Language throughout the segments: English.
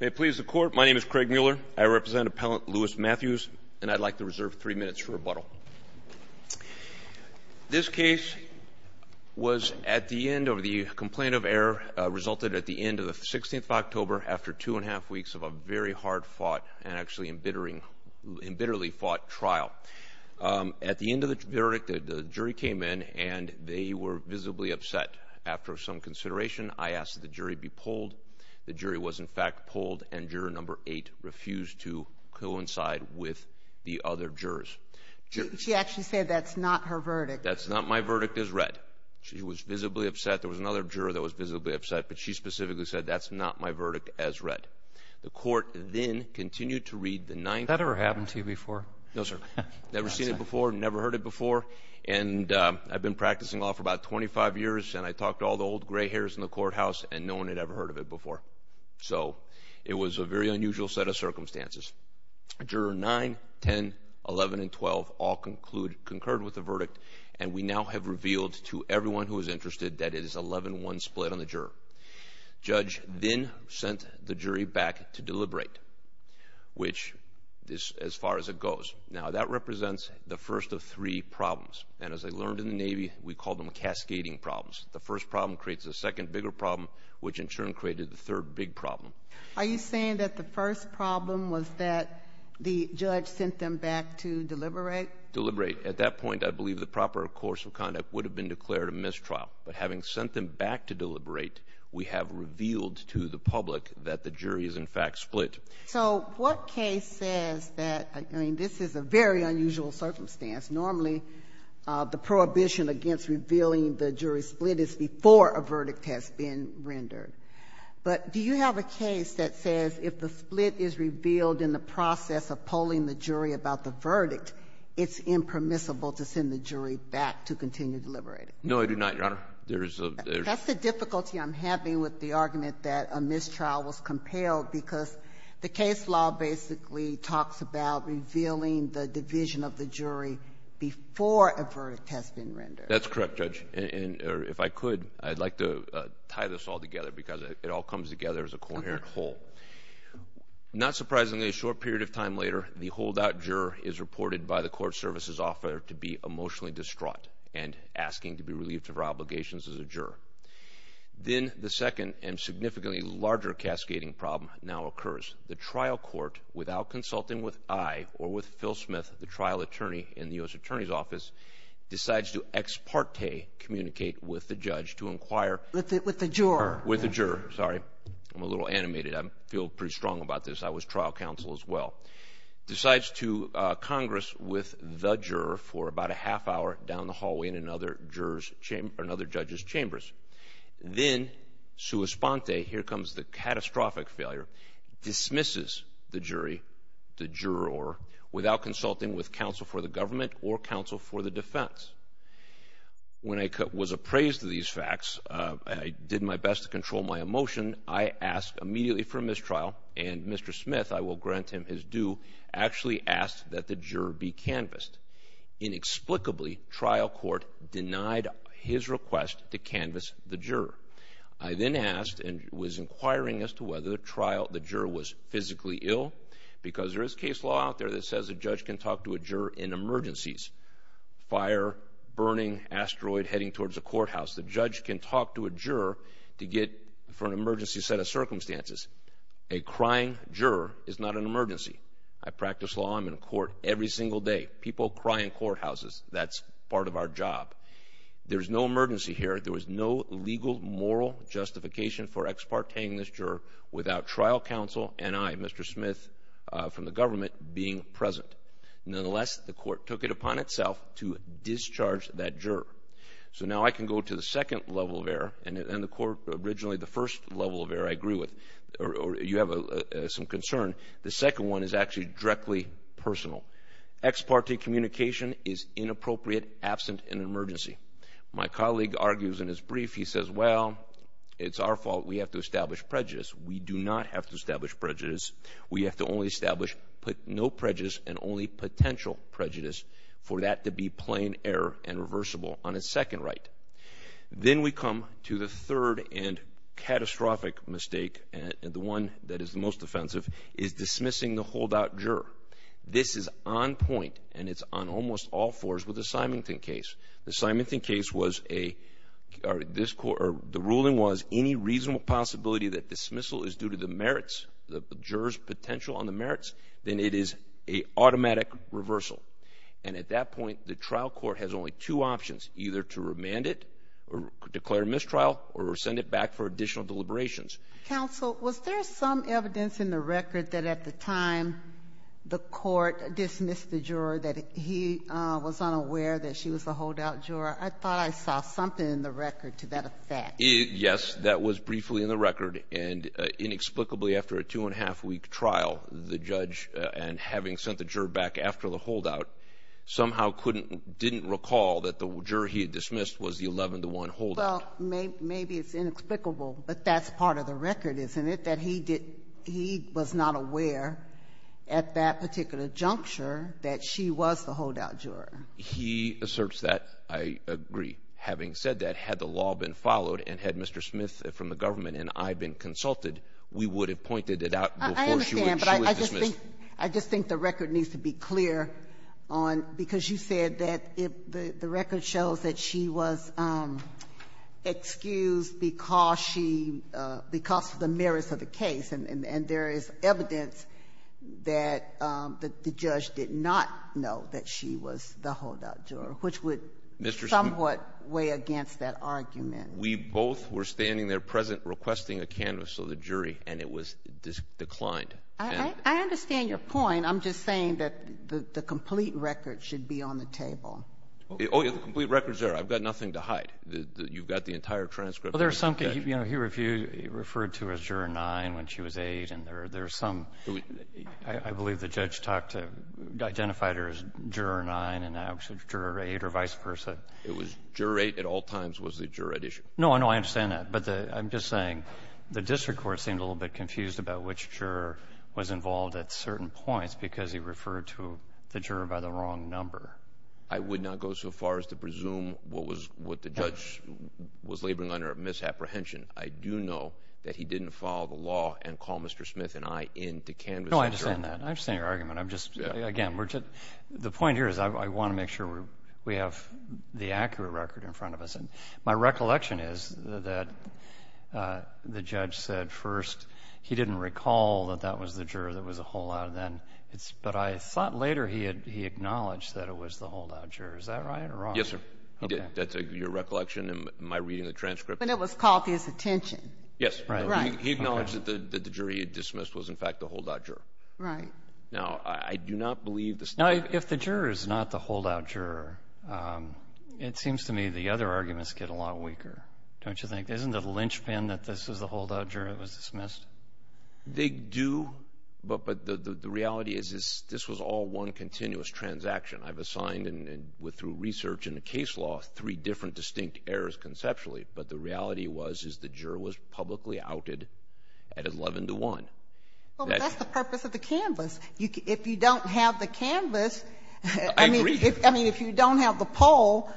May it please the Court, my name is Craig Mueller. I represent Appellant Louis Matthews, and I'd like to reserve three minutes for rebuttal. This case was at the end of the complaint of error, resulted at the end of the 16th of October, after two and a half weeks of a very hard-fought and actually embitteringly fought trial. At the end of the verdict, the jury came in, and they were visibly upset. After some consideration, I asked that the jury be polled. The jury was, in fact, polled, and Juror No. 8 refused to coincide with the other jurors. She actually said that's not her verdict. That's not my verdict as read. She was visibly upset. There was another juror that was visibly upset, but she specifically said that's not my verdict as read. The Court then continued to read the ninth verdict. Has that ever happened to you before? No, sir. Never seen it before, never heard it before. And I've been practicing law for about 25 years, and I talked to all the old gray hairs in the courthouse, and no one had ever heard of it before. So it was a very unusual set of circumstances. Juror No. 9, 10, 11, and 12 all concurred with the verdict, and we now have revealed to everyone who is interested that it is 11-1 split on the juror. Judge Vinn sent the jury back to deliberate, which is as far as it goes. Now, that represents the first of three problems. And as I learned in the Navy, we call them cascading problems. The first problem creates a second bigger problem, which in turn created the third big problem. Are you saying that the first problem was that the judge sent them back to deliberate? Deliberate. At that point, I believe the proper course of conduct would have been declared a mistrial. But having sent them back to deliberate, we have revealed to the public that the jury is, in fact, split. So what case says that, I mean, this is a very unusual circumstance. Normally, the prohibition against revealing the jury split is before a verdict has been rendered. But do you have a case that says if the split is revealed in the process of polling the jury about the verdict, it's impermissible to send the jury back to continue deliberating? No, I do not, Your Honor. That's the difficulty I'm having with the argument that a mistrial was compelled because the case law basically talks about revealing the division of the jury before a verdict has been rendered. That's correct, Judge. And if I could, I'd like to tie this all together because it all comes together as a coherent whole. Not surprisingly, a short period of time later, the holdout juror is reported by the court services officer to be emotionally distraught and asking to be relieved of her obligations as a juror. Then the second and significantly larger cascading problem now occurs. The trial court, without consulting with I or with Phil Smith, the trial attorney in the U.S. Attorney's Office, decides to ex parte communicate with the judge to inquire. With the juror. With the juror, sorry. I'm a little animated. I feel pretty strong about this. I was trial counsel as well. Decides to congress with the juror for about a half hour down the hallway in another judge's chambers. Then, sua sponte, here comes the catastrophic failure, dismisses the jury, the juror, without consulting with counsel for the government or counsel for the defense. When I was appraised of these facts, I did my best to control my emotion. I asked immediately for a mistrial. And Mr. Smith, I will grant him his due, actually asked that the juror be canvassed. Inexplicably, trial court denied his request to canvass the juror. I then asked and was inquiring as to whether the juror was physically ill, because there is case law out there that says a judge can talk to a juror in emergencies. Fire, burning, asteroid heading towards a courthouse. The judge can talk to a juror to get for an emergency set of circumstances. A crying juror is not an emergency. I practice law. I'm in court every single day. People cry in courthouses. That's part of our job. There's no emergency here. There was no legal moral justification for ex parte-ing this juror without trial counsel and I, Mr. Smith from the government, being present. Nonetheless, the court took it upon itself to discharge that juror. So now I can go to the second level of error, and originally the first level of error I agree with. You have some concern. The second one is actually directly personal. Ex parte communication is inappropriate, absent in an emergency. My colleague argues in his brief, he says, well, it's our fault we have to establish prejudice. We do not have to establish prejudice. We have to only establish no prejudice and only potential prejudice for that to be plain error and reversible on a second right. Then we come to the third and catastrophic mistake, and the one that is the most offensive, is dismissing the holdout juror. This is on point, and it's on almost all fours with the Symington case. The Symington case was a, or the ruling was any reasonable possibility that dismissal is due to the merits, the juror's potential on the merits, then it is an automatic reversal. And at that point, the trial court has only two options, either to remand it or declare mistrial or send it back for additional deliberations. Counsel, was there some evidence in the record that at the time the court dismissed the juror that he was unaware that she was a holdout juror? I thought I saw something in the record to that effect. Yes, that was briefly in the record, and inexplicably after a two-and-a-half-week trial, the judge, and having sent the juror back after the holdout, somehow couldn't didn't recall that the juror he had dismissed was the 11-to-1 holdout. Well, maybe it's inexplicable, but that's part of the record, isn't it, that he did he was not aware at that particular juncture that she was the holdout juror? He asserts that. I agree. Having said that, had the law been followed and had Mr. Smith from the government and I been consulted, we would have pointed it out before she was dismissed. I understand, but I just think the record needs to be clear on, because you said that the record shows that she was excused because she — because of the merits of the case, and there is evidence that the judge did not know that she was the holdout juror, which would somewhat weigh against that argument. We both were standing there present requesting a canvas of the jury, and it was declined. I understand your point. I'm just saying that the complete record should be on the table. Oh, yeah. The complete record's there. I've got nothing to hide. You've got the entire transcript. Well, there's something, you know, he referred to her as Juror 9 when she was 8, and there's some — I believe the judge talked to — identified her as Juror 9, and now it's Juror 8 or vice versa. It was — Juror 8 at all times was the juror edition. No, no, I understand that. But the — I'm just saying the district court seemed a little bit confused about which juror was involved at certain points because he referred to the juror by the wrong number. I would not go so far as to presume what was — what the judge was laboring under at misapprehension. I do know that he didn't follow the law and call Mr. Smith and I into canvassing the juror. No, I understand that. I understand your argument. I'm just — again, we're just — the point here is I want to make sure we have the accurate record in front of us. And my recollection is that the judge said first he didn't recall that that was the juror that was a holdout, and then it's — but I thought later he had — he acknowledged that it was the holdout juror. Is that right or wrong? Yes, sir. Okay. He did. That's your recollection in my reading of the transcript? But it was caught his attention. Yes. Right. Right. Okay. He acknowledged that the juror he had dismissed was, in fact, the holdout juror. Right. Now, I do not believe the — Now, if the juror is not the holdout juror, it seems to me the other arguments get a lot weaker, don't you think? Isn't it a linchpin that this is the holdout juror that was dismissed? They do, but the reality is this was all one continuous transaction. I've assigned, through research and the case law, three different distinct errors conceptually, but the reality was is the juror was publicly outed at 11-1. Well, that's the purpose of the canvass. If you don't have the canvass — I agree. I mean, if you don't have the poll,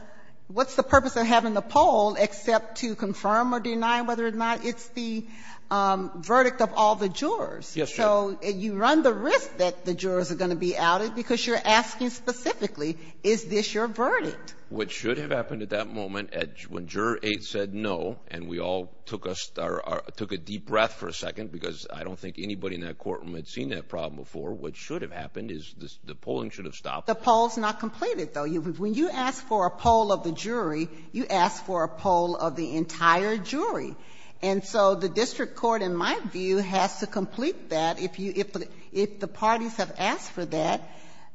what's the purpose of having the poll except to confirm or deny whether or not it's the verdict of all the jurors? Yes, Your Honor. So you run the risk that the jurors are going to be outed because you're asking specifically, is this your verdict? What should have happened at that moment, when Juror 8 said no, and we all took a deep breath for a second, because I don't think anybody in that courtroom had seen that problem before, what should have happened is the polling should have stopped. The poll's not completed, though. When you ask for a poll of the jury, you ask for a poll of the entire jury. And so the district court, in my view, has to complete that. If you — if the parties have asked for that,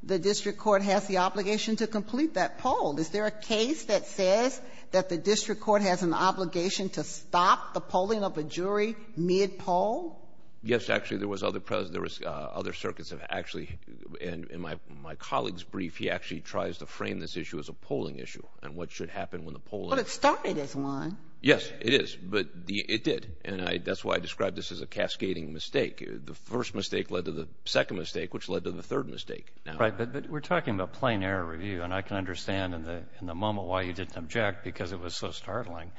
the district court has the obligation to complete that poll. Is there a case that says that the district court has an obligation to stop the polling of a jury mid-poll? Yes, actually. There was other — there was other circuits have actually — and in my colleague's brief, he actually tries to frame this issue as a polling issue and what should happen when the polling — But it started as one. Yes, it is. But it did. And that's why I described this as a cascading mistake. The first mistake led to the second mistake, which led to the third mistake. Right. But we're talking about plain error review. And I can understand in the moment why you didn't object, because it was so startling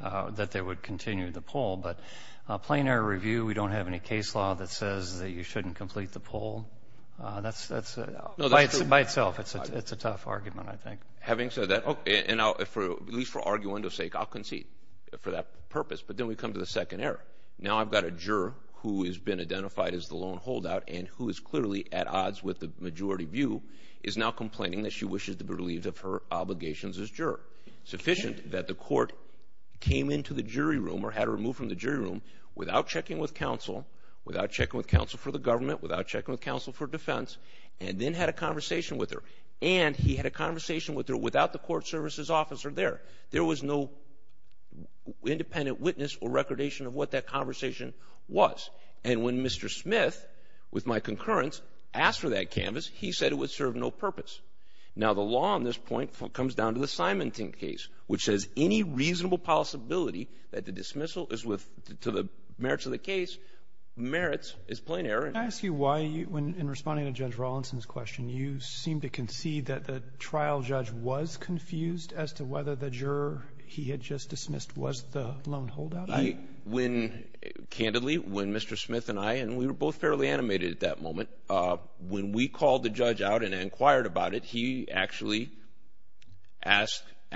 that they would continue the poll. But plain error review, we don't have any case law that says that you shouldn't complete the poll. That's — No, that's true. By itself, it's a tough argument, I think. Having said that — and I'll — at least for argument's sake, I'll concede for that purpose. But then we come to the second error. Now I've got a juror who has been identified as the lone holdout and who is clearly at odds with the majority view, is now complaining that she wishes to be relieved of her obligations as juror, sufficient that the court came into the jury room or had her moved from the jury room without checking with counsel, without checking with counsel for the government, without checking with counsel for defense, and then had a conversation with her. And he had a conversation with her without the court services officer there. There was no independent witness or recordation of what that conversation was. And when Mr. Smith, with my concurrence, asked for that canvas, he said it would serve no purpose. Now the law on this point comes down to the Simonton case, which says any reasonable possibility that the dismissal is with — to the merits of the case, merits, is plain error. Can I ask you why, in responding to Judge Rawlinson's question, you seem to concede that the trial judge was confused as to whether the juror he had just dismissed was the lone holdout? I — when — candidly, when Mr. Smith and I — and we were both fairly animated at that moment — when we called the judge out and inquired about it, he actually asked —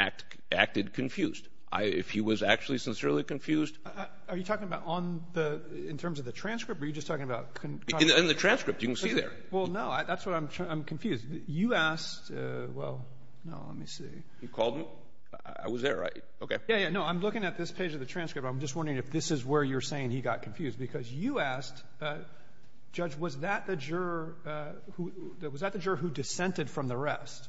acted confused. I — if he was actually sincerely confused — Are you talking about on the — in terms of the transcript, or are you just talking about — In the transcript. You can see there. Well, no. That's what I'm — I'm confused. You asked — well, no. Let me see. You called him? I was there, right? Okay. Yeah, yeah. No. I'm looking at this page of the transcript. I'm just wondering if this is where you're saying he got confused, because you asked, Judge, was that the juror who — was that the juror who dissented from the rest?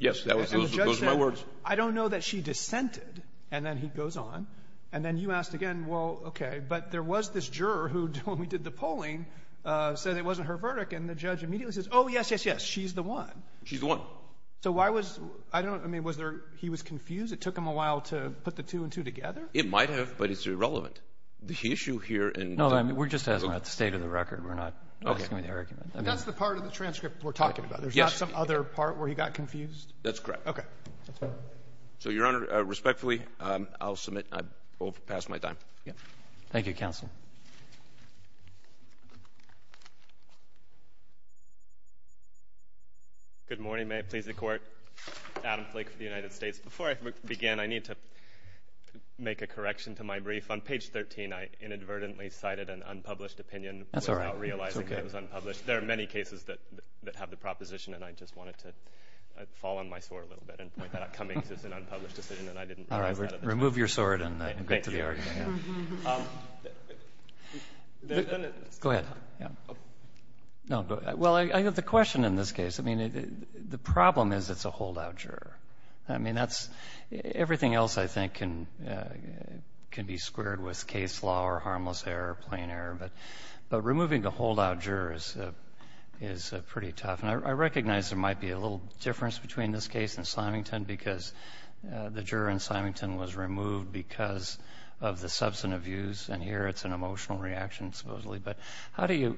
Yes. That was — those were my words. And the judge said, I don't know that she dissented. And then he goes on. And then you asked again, well, okay, but there was this juror who, when we did the polling, said it wasn't her verdict, and the judge immediately says, oh, yes, yes, yes, she's the one. She's the one. So why was — I don't — I mean, was there — he was confused? It took him a while to put the two and two together? It might have, but it's irrelevant. The issue here in — No, I mean, we're just asking at the state of the record. We're not — Okay. That's the part of the transcript we're talking about. Yes. Is there not some other part where he got confused? That's correct. Okay. So, Your Honor, respectfully, I'll submit I've overpassed my time. Thank you, counsel. Good morning. May it please the Court. Adam Flake for the United States. Before I begin, I need to make a correction to my brief. On page 13, I inadvertently cited an unpublished opinion — That's all right. — without realizing it was unpublished. That's okay. There are many cases that have the proposition, and I just wanted to fall on my sword a little bit and point that out coming because it's an unpublished decision, and I didn't realize that at the time. All right. Remove your sword and go to the argument. Thank you. Go ahead. Well, I have the question in this case. I mean, the problem is it's a holdout juror. I mean, that's — everything else, I think, can be squared with case law or harmless error or plain error. But removing the holdout juror is pretty tough. And I recognize there might be a little difference between this case and Symington because the juror in Symington was removed because of the substantive views, and here it's an emotional reaction supposedly. But how do you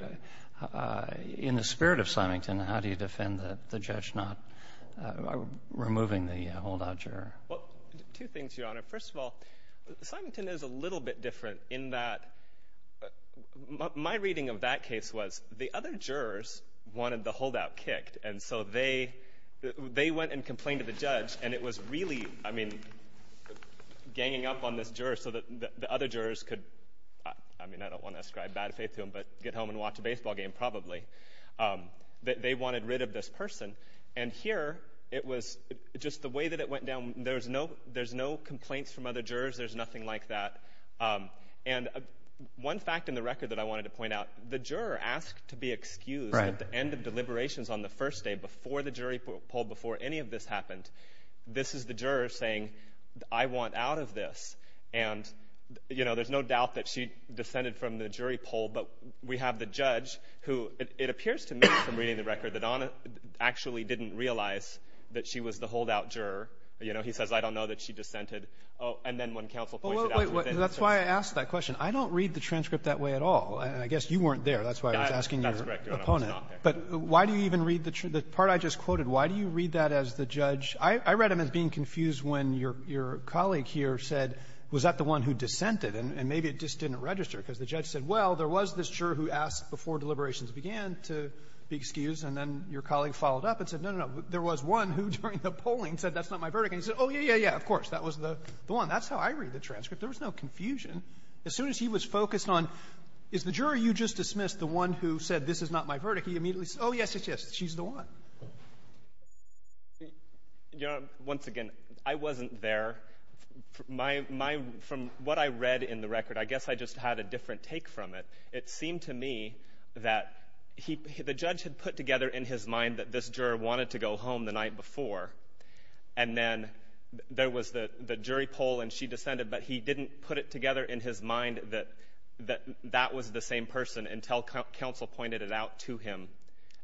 — in the spirit of Symington, how do you defend the judge not removing the holdout juror? Well, two things, Your Honor. First of all, Symington is a little bit different in that my reading of that case was the other jurors wanted the holdout kicked, and so they went and complained to the judge, and it was really, I mean, ganging up on this juror so that the other jurors could — I mean, I don't want to ascribe bad faith to them, but get home and watch a baseball game probably. They wanted rid of this person. And here it was just the way that it went down. There's no complaints from other jurors. There's nothing like that. And one fact in the record that I wanted to point out, the juror asked to be excused at the end of deliberations on the first day before the jury poll, before any of this happened. This is the juror saying, I want out of this. And, you know, there's no doubt that she descended from the jury poll, but we have the judge who, it appears to me from reading the record, that Donna actually didn't realize that she was the holdout juror. You know, he says, I don't know that she dissented. And then when counsel points it out — That's why I asked that question. I don't read the transcript that way at all. I guess you weren't there. That's why I was asking your opponent. But why do you even read the part I just quoted? Why do you read that as the judge? I read them as being confused when your colleague here said, was that the one who dissented? And maybe it just didn't register because the judge said, well, there was this juror who asked before deliberations began to be excused, and then your colleague followed up and said, no, no, no, there was one who during the polling said that's not my verdict. And he said, oh, yeah, yeah, yeah, of course, that was the one. That's how I read the transcript. There was no confusion. As soon as he was focused on, is the juror you just dismissed the one who said this is not my verdict, he immediately said, oh, yes, yes, yes, she's the one. You know, once again, I wasn't there. From what I read in the record, I guess I just had a different take from it. It seemed to me that the judge had put together in his mind that this juror wanted to go home the night before, and then there was the jury poll and she dissented, but he didn't put it together in his mind that that was the same person until counsel pointed it out to him.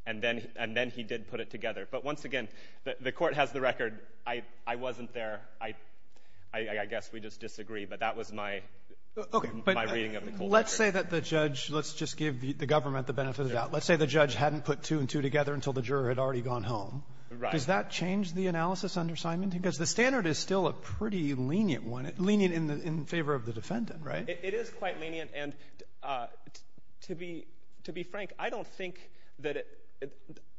And then he did put it together. But once again, the court has the record. I wasn't there. I guess we just disagree. But that was my reading of the court record. Let's say the judge hadn't put two and two together until the juror had already gone home. Right. Does that change the analysis under Simon? Because the standard is still a pretty lenient one, lenient in favor of the defendant, right? It is quite lenient. And to be frank, I don't think that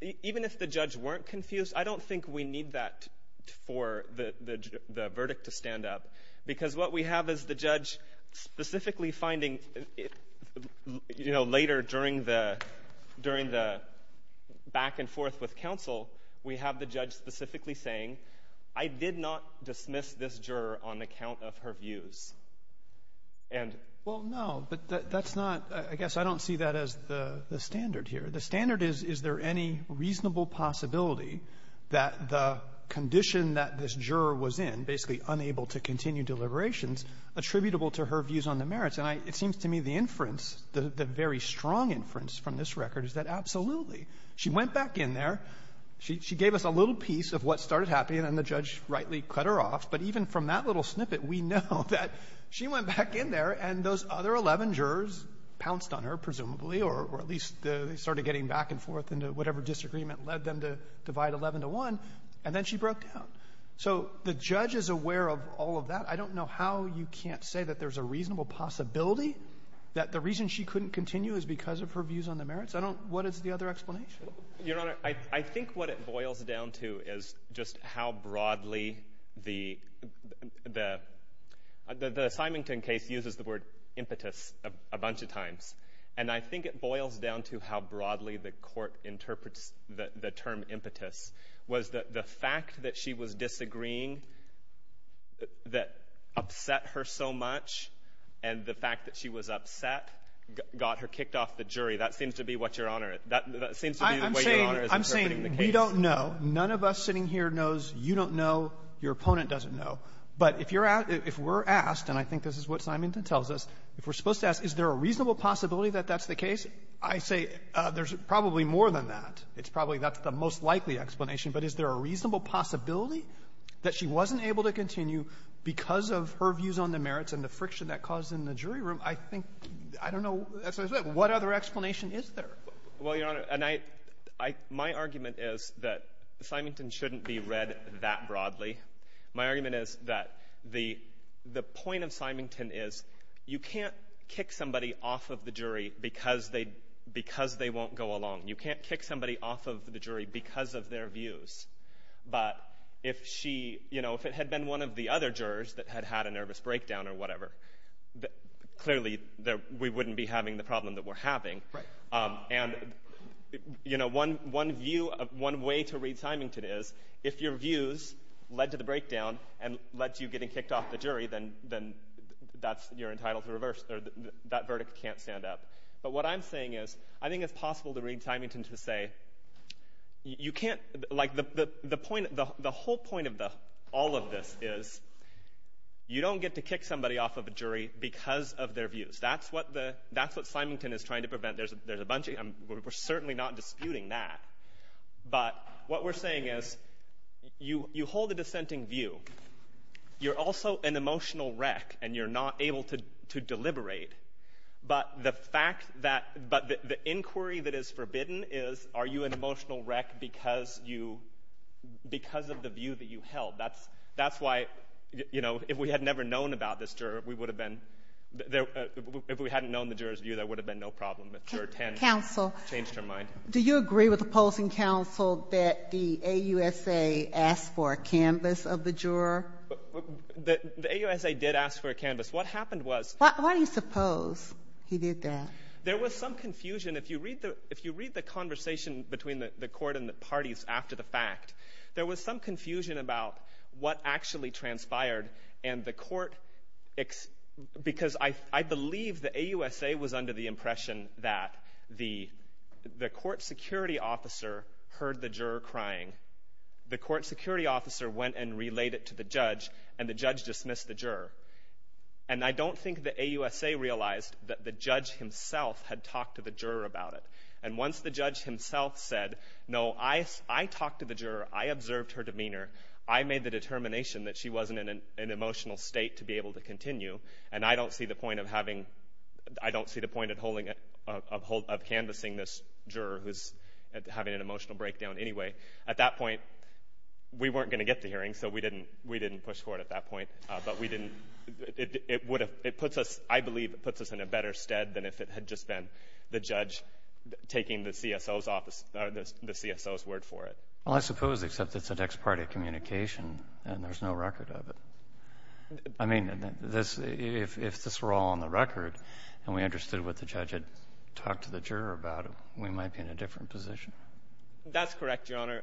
even if the judge weren't confused, I don't think we need that for the verdict to stand up, because what we have is the judge specifically finding, you know, later during the back and forth with counsel, we have the judge specifically saying, I did not dismiss this juror on account of her views. And — Well, no, but that's not — I guess I don't see that as the standard here. The standard is, is there any reasonable possibility that the condition that this seems to me the inference, the very strong inference from this record is that absolutely. She went back in there. She gave us a little piece of what started happening, and then the judge rightly cut her off. But even from that little snippet, we know that she went back in there and those other 11 jurors pounced on her, presumably, or at least they started getting back and forth into whatever disagreement led them to divide 11 to 1, and then she broke So the judge is aware of all of that. I don't know how you can't say that there's a reasonable possibility that the reason she couldn't continue is because of her views on the merits. I don't — what is the other explanation? Your Honor, I think what it boils down to is just how broadly the — the Simington case uses the word impetus a bunch of times, and I think it boils down to how broadly the court interprets the term impetus was that the fact that she was disagreeing that upset her so much and the fact that she was upset got her kicked off the jury. That seems to be what Your Honor — that seems to be the way Your Honor is interpreting the case. I'm saying we don't know. None of us sitting here knows. You don't know. Your opponent doesn't know. But if you're — if we're asked, and I think this is what Simington tells us, if we're supposed to ask, is there a reasonable possibility that that's the case, I say there's probably more than that. It's probably — that's the most likely explanation. But is there a reasonable possibility that she wasn't able to continue because of her views on the merits and the friction that caused in the jury room? I think — I don't know. What other explanation is there? Well, Your Honor, and I — I — my argument is that Simington shouldn't be read that broadly. My argument is that the — the point of Simington is you can't kick somebody off of the jury because they won't go along. You can't kick somebody off of the jury because of their views. But if she — you know, if it had been one of the other jurors that had had a nervous breakdown or whatever, clearly we wouldn't be having the problem that we're having. Right. And, you know, one view — one way to read Simington is if your views led to the breakdown and led to you getting kicked off the jury, then that's — you're entitled to reverse — that verdict can't stand up. But what I'm saying is I think it's possible to read Simington to say you can't — like the — the point — the whole point of the — all of this is you don't get to kick somebody off of a jury because of their views. That's what the — that's what Simington is trying to prevent. There's a bunch of — we're certainly not disputing that. But what we're saying is you hold a dissenting view. You're also an emotional wreck, and you're not able to deliberate. But the fact that — but the inquiry that is forbidden is are you an emotional wreck because you — because of the view that you held? That's — that's why, you know, if we had never known about this juror, we would have been — if we hadn't known the juror's view, there would have been no problem. But Juror 10 — Counsel. — changed her mind. Do you agree with opposing counsel that the AUSA asked for a canvas of the juror? The AUSA did ask for a canvas. What happened was — Why do you suppose he did that? There was some confusion. If you read the — if you read the conversation between the court and the parties after the fact, there was some confusion about what actually transpired. And the court — because I believe the AUSA was under the impression that the court security officer heard the juror crying. The court security officer went and relayed it to the judge, and the judge dismissed the juror. And I don't think the AUSA realized that the judge himself had talked to the juror about it. And once the judge himself said, no, I talked to the juror, I observed her demeanor, I made the determination that she wasn't in an emotional state to be able to continue. And I don't see the point of having — I don't see the point of holding — of canvassing this juror who's having an emotional breakdown anyway. At that point, we weren't going to get the hearing, so we didn't push for it at that point. But we didn't — it would have — it puts us — I believe it puts us in a better stead than if it had just been the judge taking the CSO's office — the CSO's word for it. Well, I suppose, except it's a next-party communication and there's no record of it. I mean, this — if this were all on the record and we understood what the judge had talked to the juror about, we might be in a different position. That's correct, Your Honor.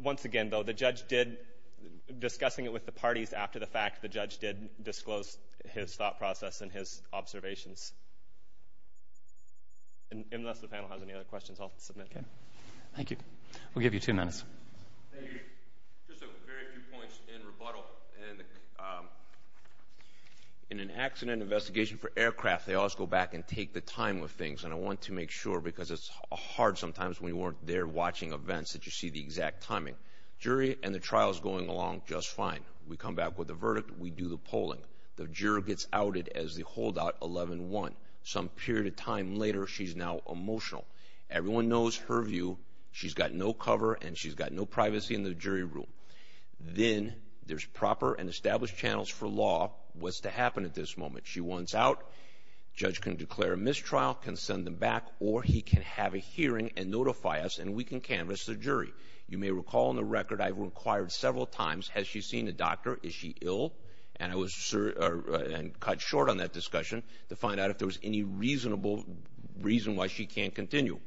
Once again, though, the judge did — discussing it with the parties after the fact, the judge did disclose his thought process and his observations. Unless the panel has any other questions, I'll submit. Okay. Thank you. We'll give you two minutes. Thank you. Just a very few points in rebuttal. In an accident investigation for aircraft, they always go back and take the time of things. And I want to make sure, because it's hard sometimes when you weren't there watching events that you see the exact timing. Jury and the trial is going along just fine. We come back with a verdict. We do the polling. The juror gets outed as the holdout 11-1. Some period of time later, she's now emotional. Everyone knows her view. She's got no cover, and she's got no privacy in the jury room. Then there's proper and established channels for law. What's to happen at this moment? She wants out. The judge can declare a mistrial, can send them back, or he can have a hearing and notify us, and we can canvass the jury. You may recall in the record I've inquired several times, has she seen a doctor? Is she ill? And I cut short on that discussion to find out if there was any reasonable reason why she can't continue.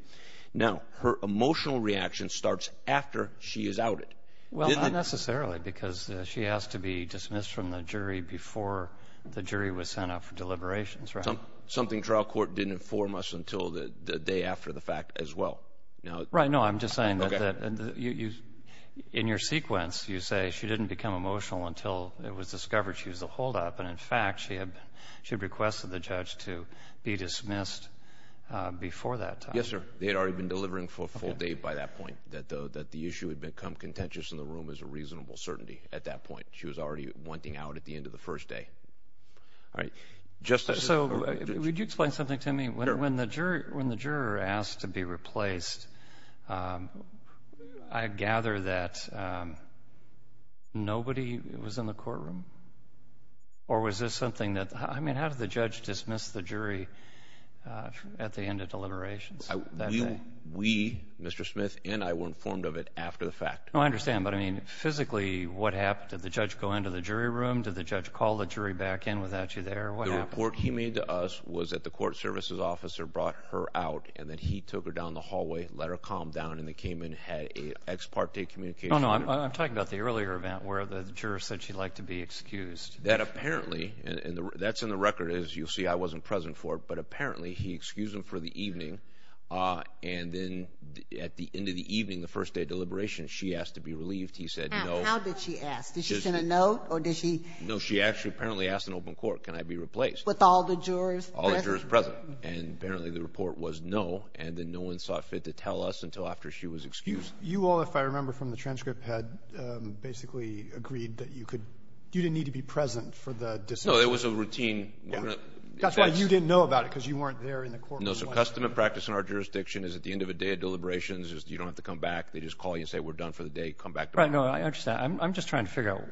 Now, her emotional reaction starts after she is outed. Well, not necessarily, because she has to be dismissed from the jury before the jury was sent out for deliberations, right? Something trial court didn't inform us until the day after the fact as well. Right. No, I'm just saying that in your sequence, you say she didn't become emotional until it was discovered she was a holdup, and, in fact, she had requested the judge to be dismissed before that time. Yes, sir. They had already been delivering for a full day by that point, that the issue had become contentious in the room as a reasonable certainty at that point. She was already wanting out at the end of the first day. All right. So would you explain something to me? Sure. When the juror asked to be replaced, I gather that nobody was in the courtroom? Or was this something that, I mean, how did the judge dismiss the jury at the end of deliberations that day? We, Mr. Smith and I, were informed of it after the fact. Oh, I understand. But, I mean, physically, what happened? Did the judge go into the jury room? Did the judge call the jury back in without you there? What happened? The work he made to us was that the court services officer brought her out, and then he took her down the hallway, let her calm down, and they came in, had an ex parte communication. Oh, no, I'm talking about the earlier event where the juror said she'd like to be excused. That apparently, and that's in the record, as you'll see. I wasn't present for it. But apparently he excused them for the evening, and then at the end of the evening, the first day of deliberations, she asked to be relieved. He said no. How did she ask? Did she send a note, or did she? No, she actually apparently asked in open court, can I be replaced? With all the jurors present? All the jurors present. And apparently the report was no, and then no one saw fit to tell us until after she was excused. You all, if I remember from the transcript, had basically agreed that you could, you didn't need to be present for the decision. No, it was a routine. That's why you didn't know about it, because you weren't there in the courtroom. No, so custom and practice in our jurisdiction is at the end of a day of deliberations, you don't have to come back, they just call you and say we're done for the day, come back tomorrow. All right, no, I understand. I'm just trying to figure out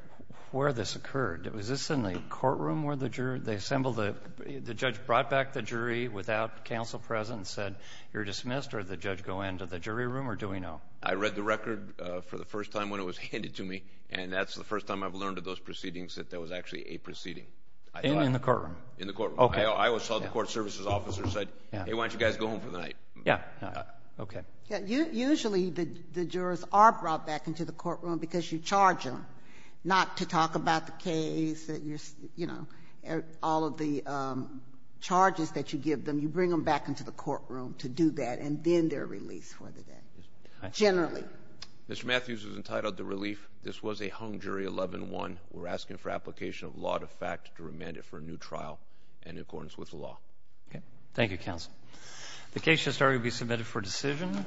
where this occurred. Was this in the courtroom where the jurors, they assembled, the judge brought back the jury without counsel present and said you're dismissed, or did the judge go into the jury room, or do we know? I read the record for the first time when it was handed to me, and that's the first time I've learned of those proceedings that there was actually a proceeding. In the courtroom? In the courtroom. I always saw the court services officer and said, hey, why don't you guys go home for the night? Yeah, okay. Usually the jurors are brought back into the courtroom because you charge them, not to talk about the case that you're, you know, all of the charges that you give them, you bring them back into the courtroom to do that, and then they're released for the day, generally. Mr. Matthews is entitled to relief. This was a hung jury 11-1. We're asking for application of law to fact to remand it for a new trial in accordance with the law. Okay. Thank you, counsel. The case shall start. You'll be submitted for decision.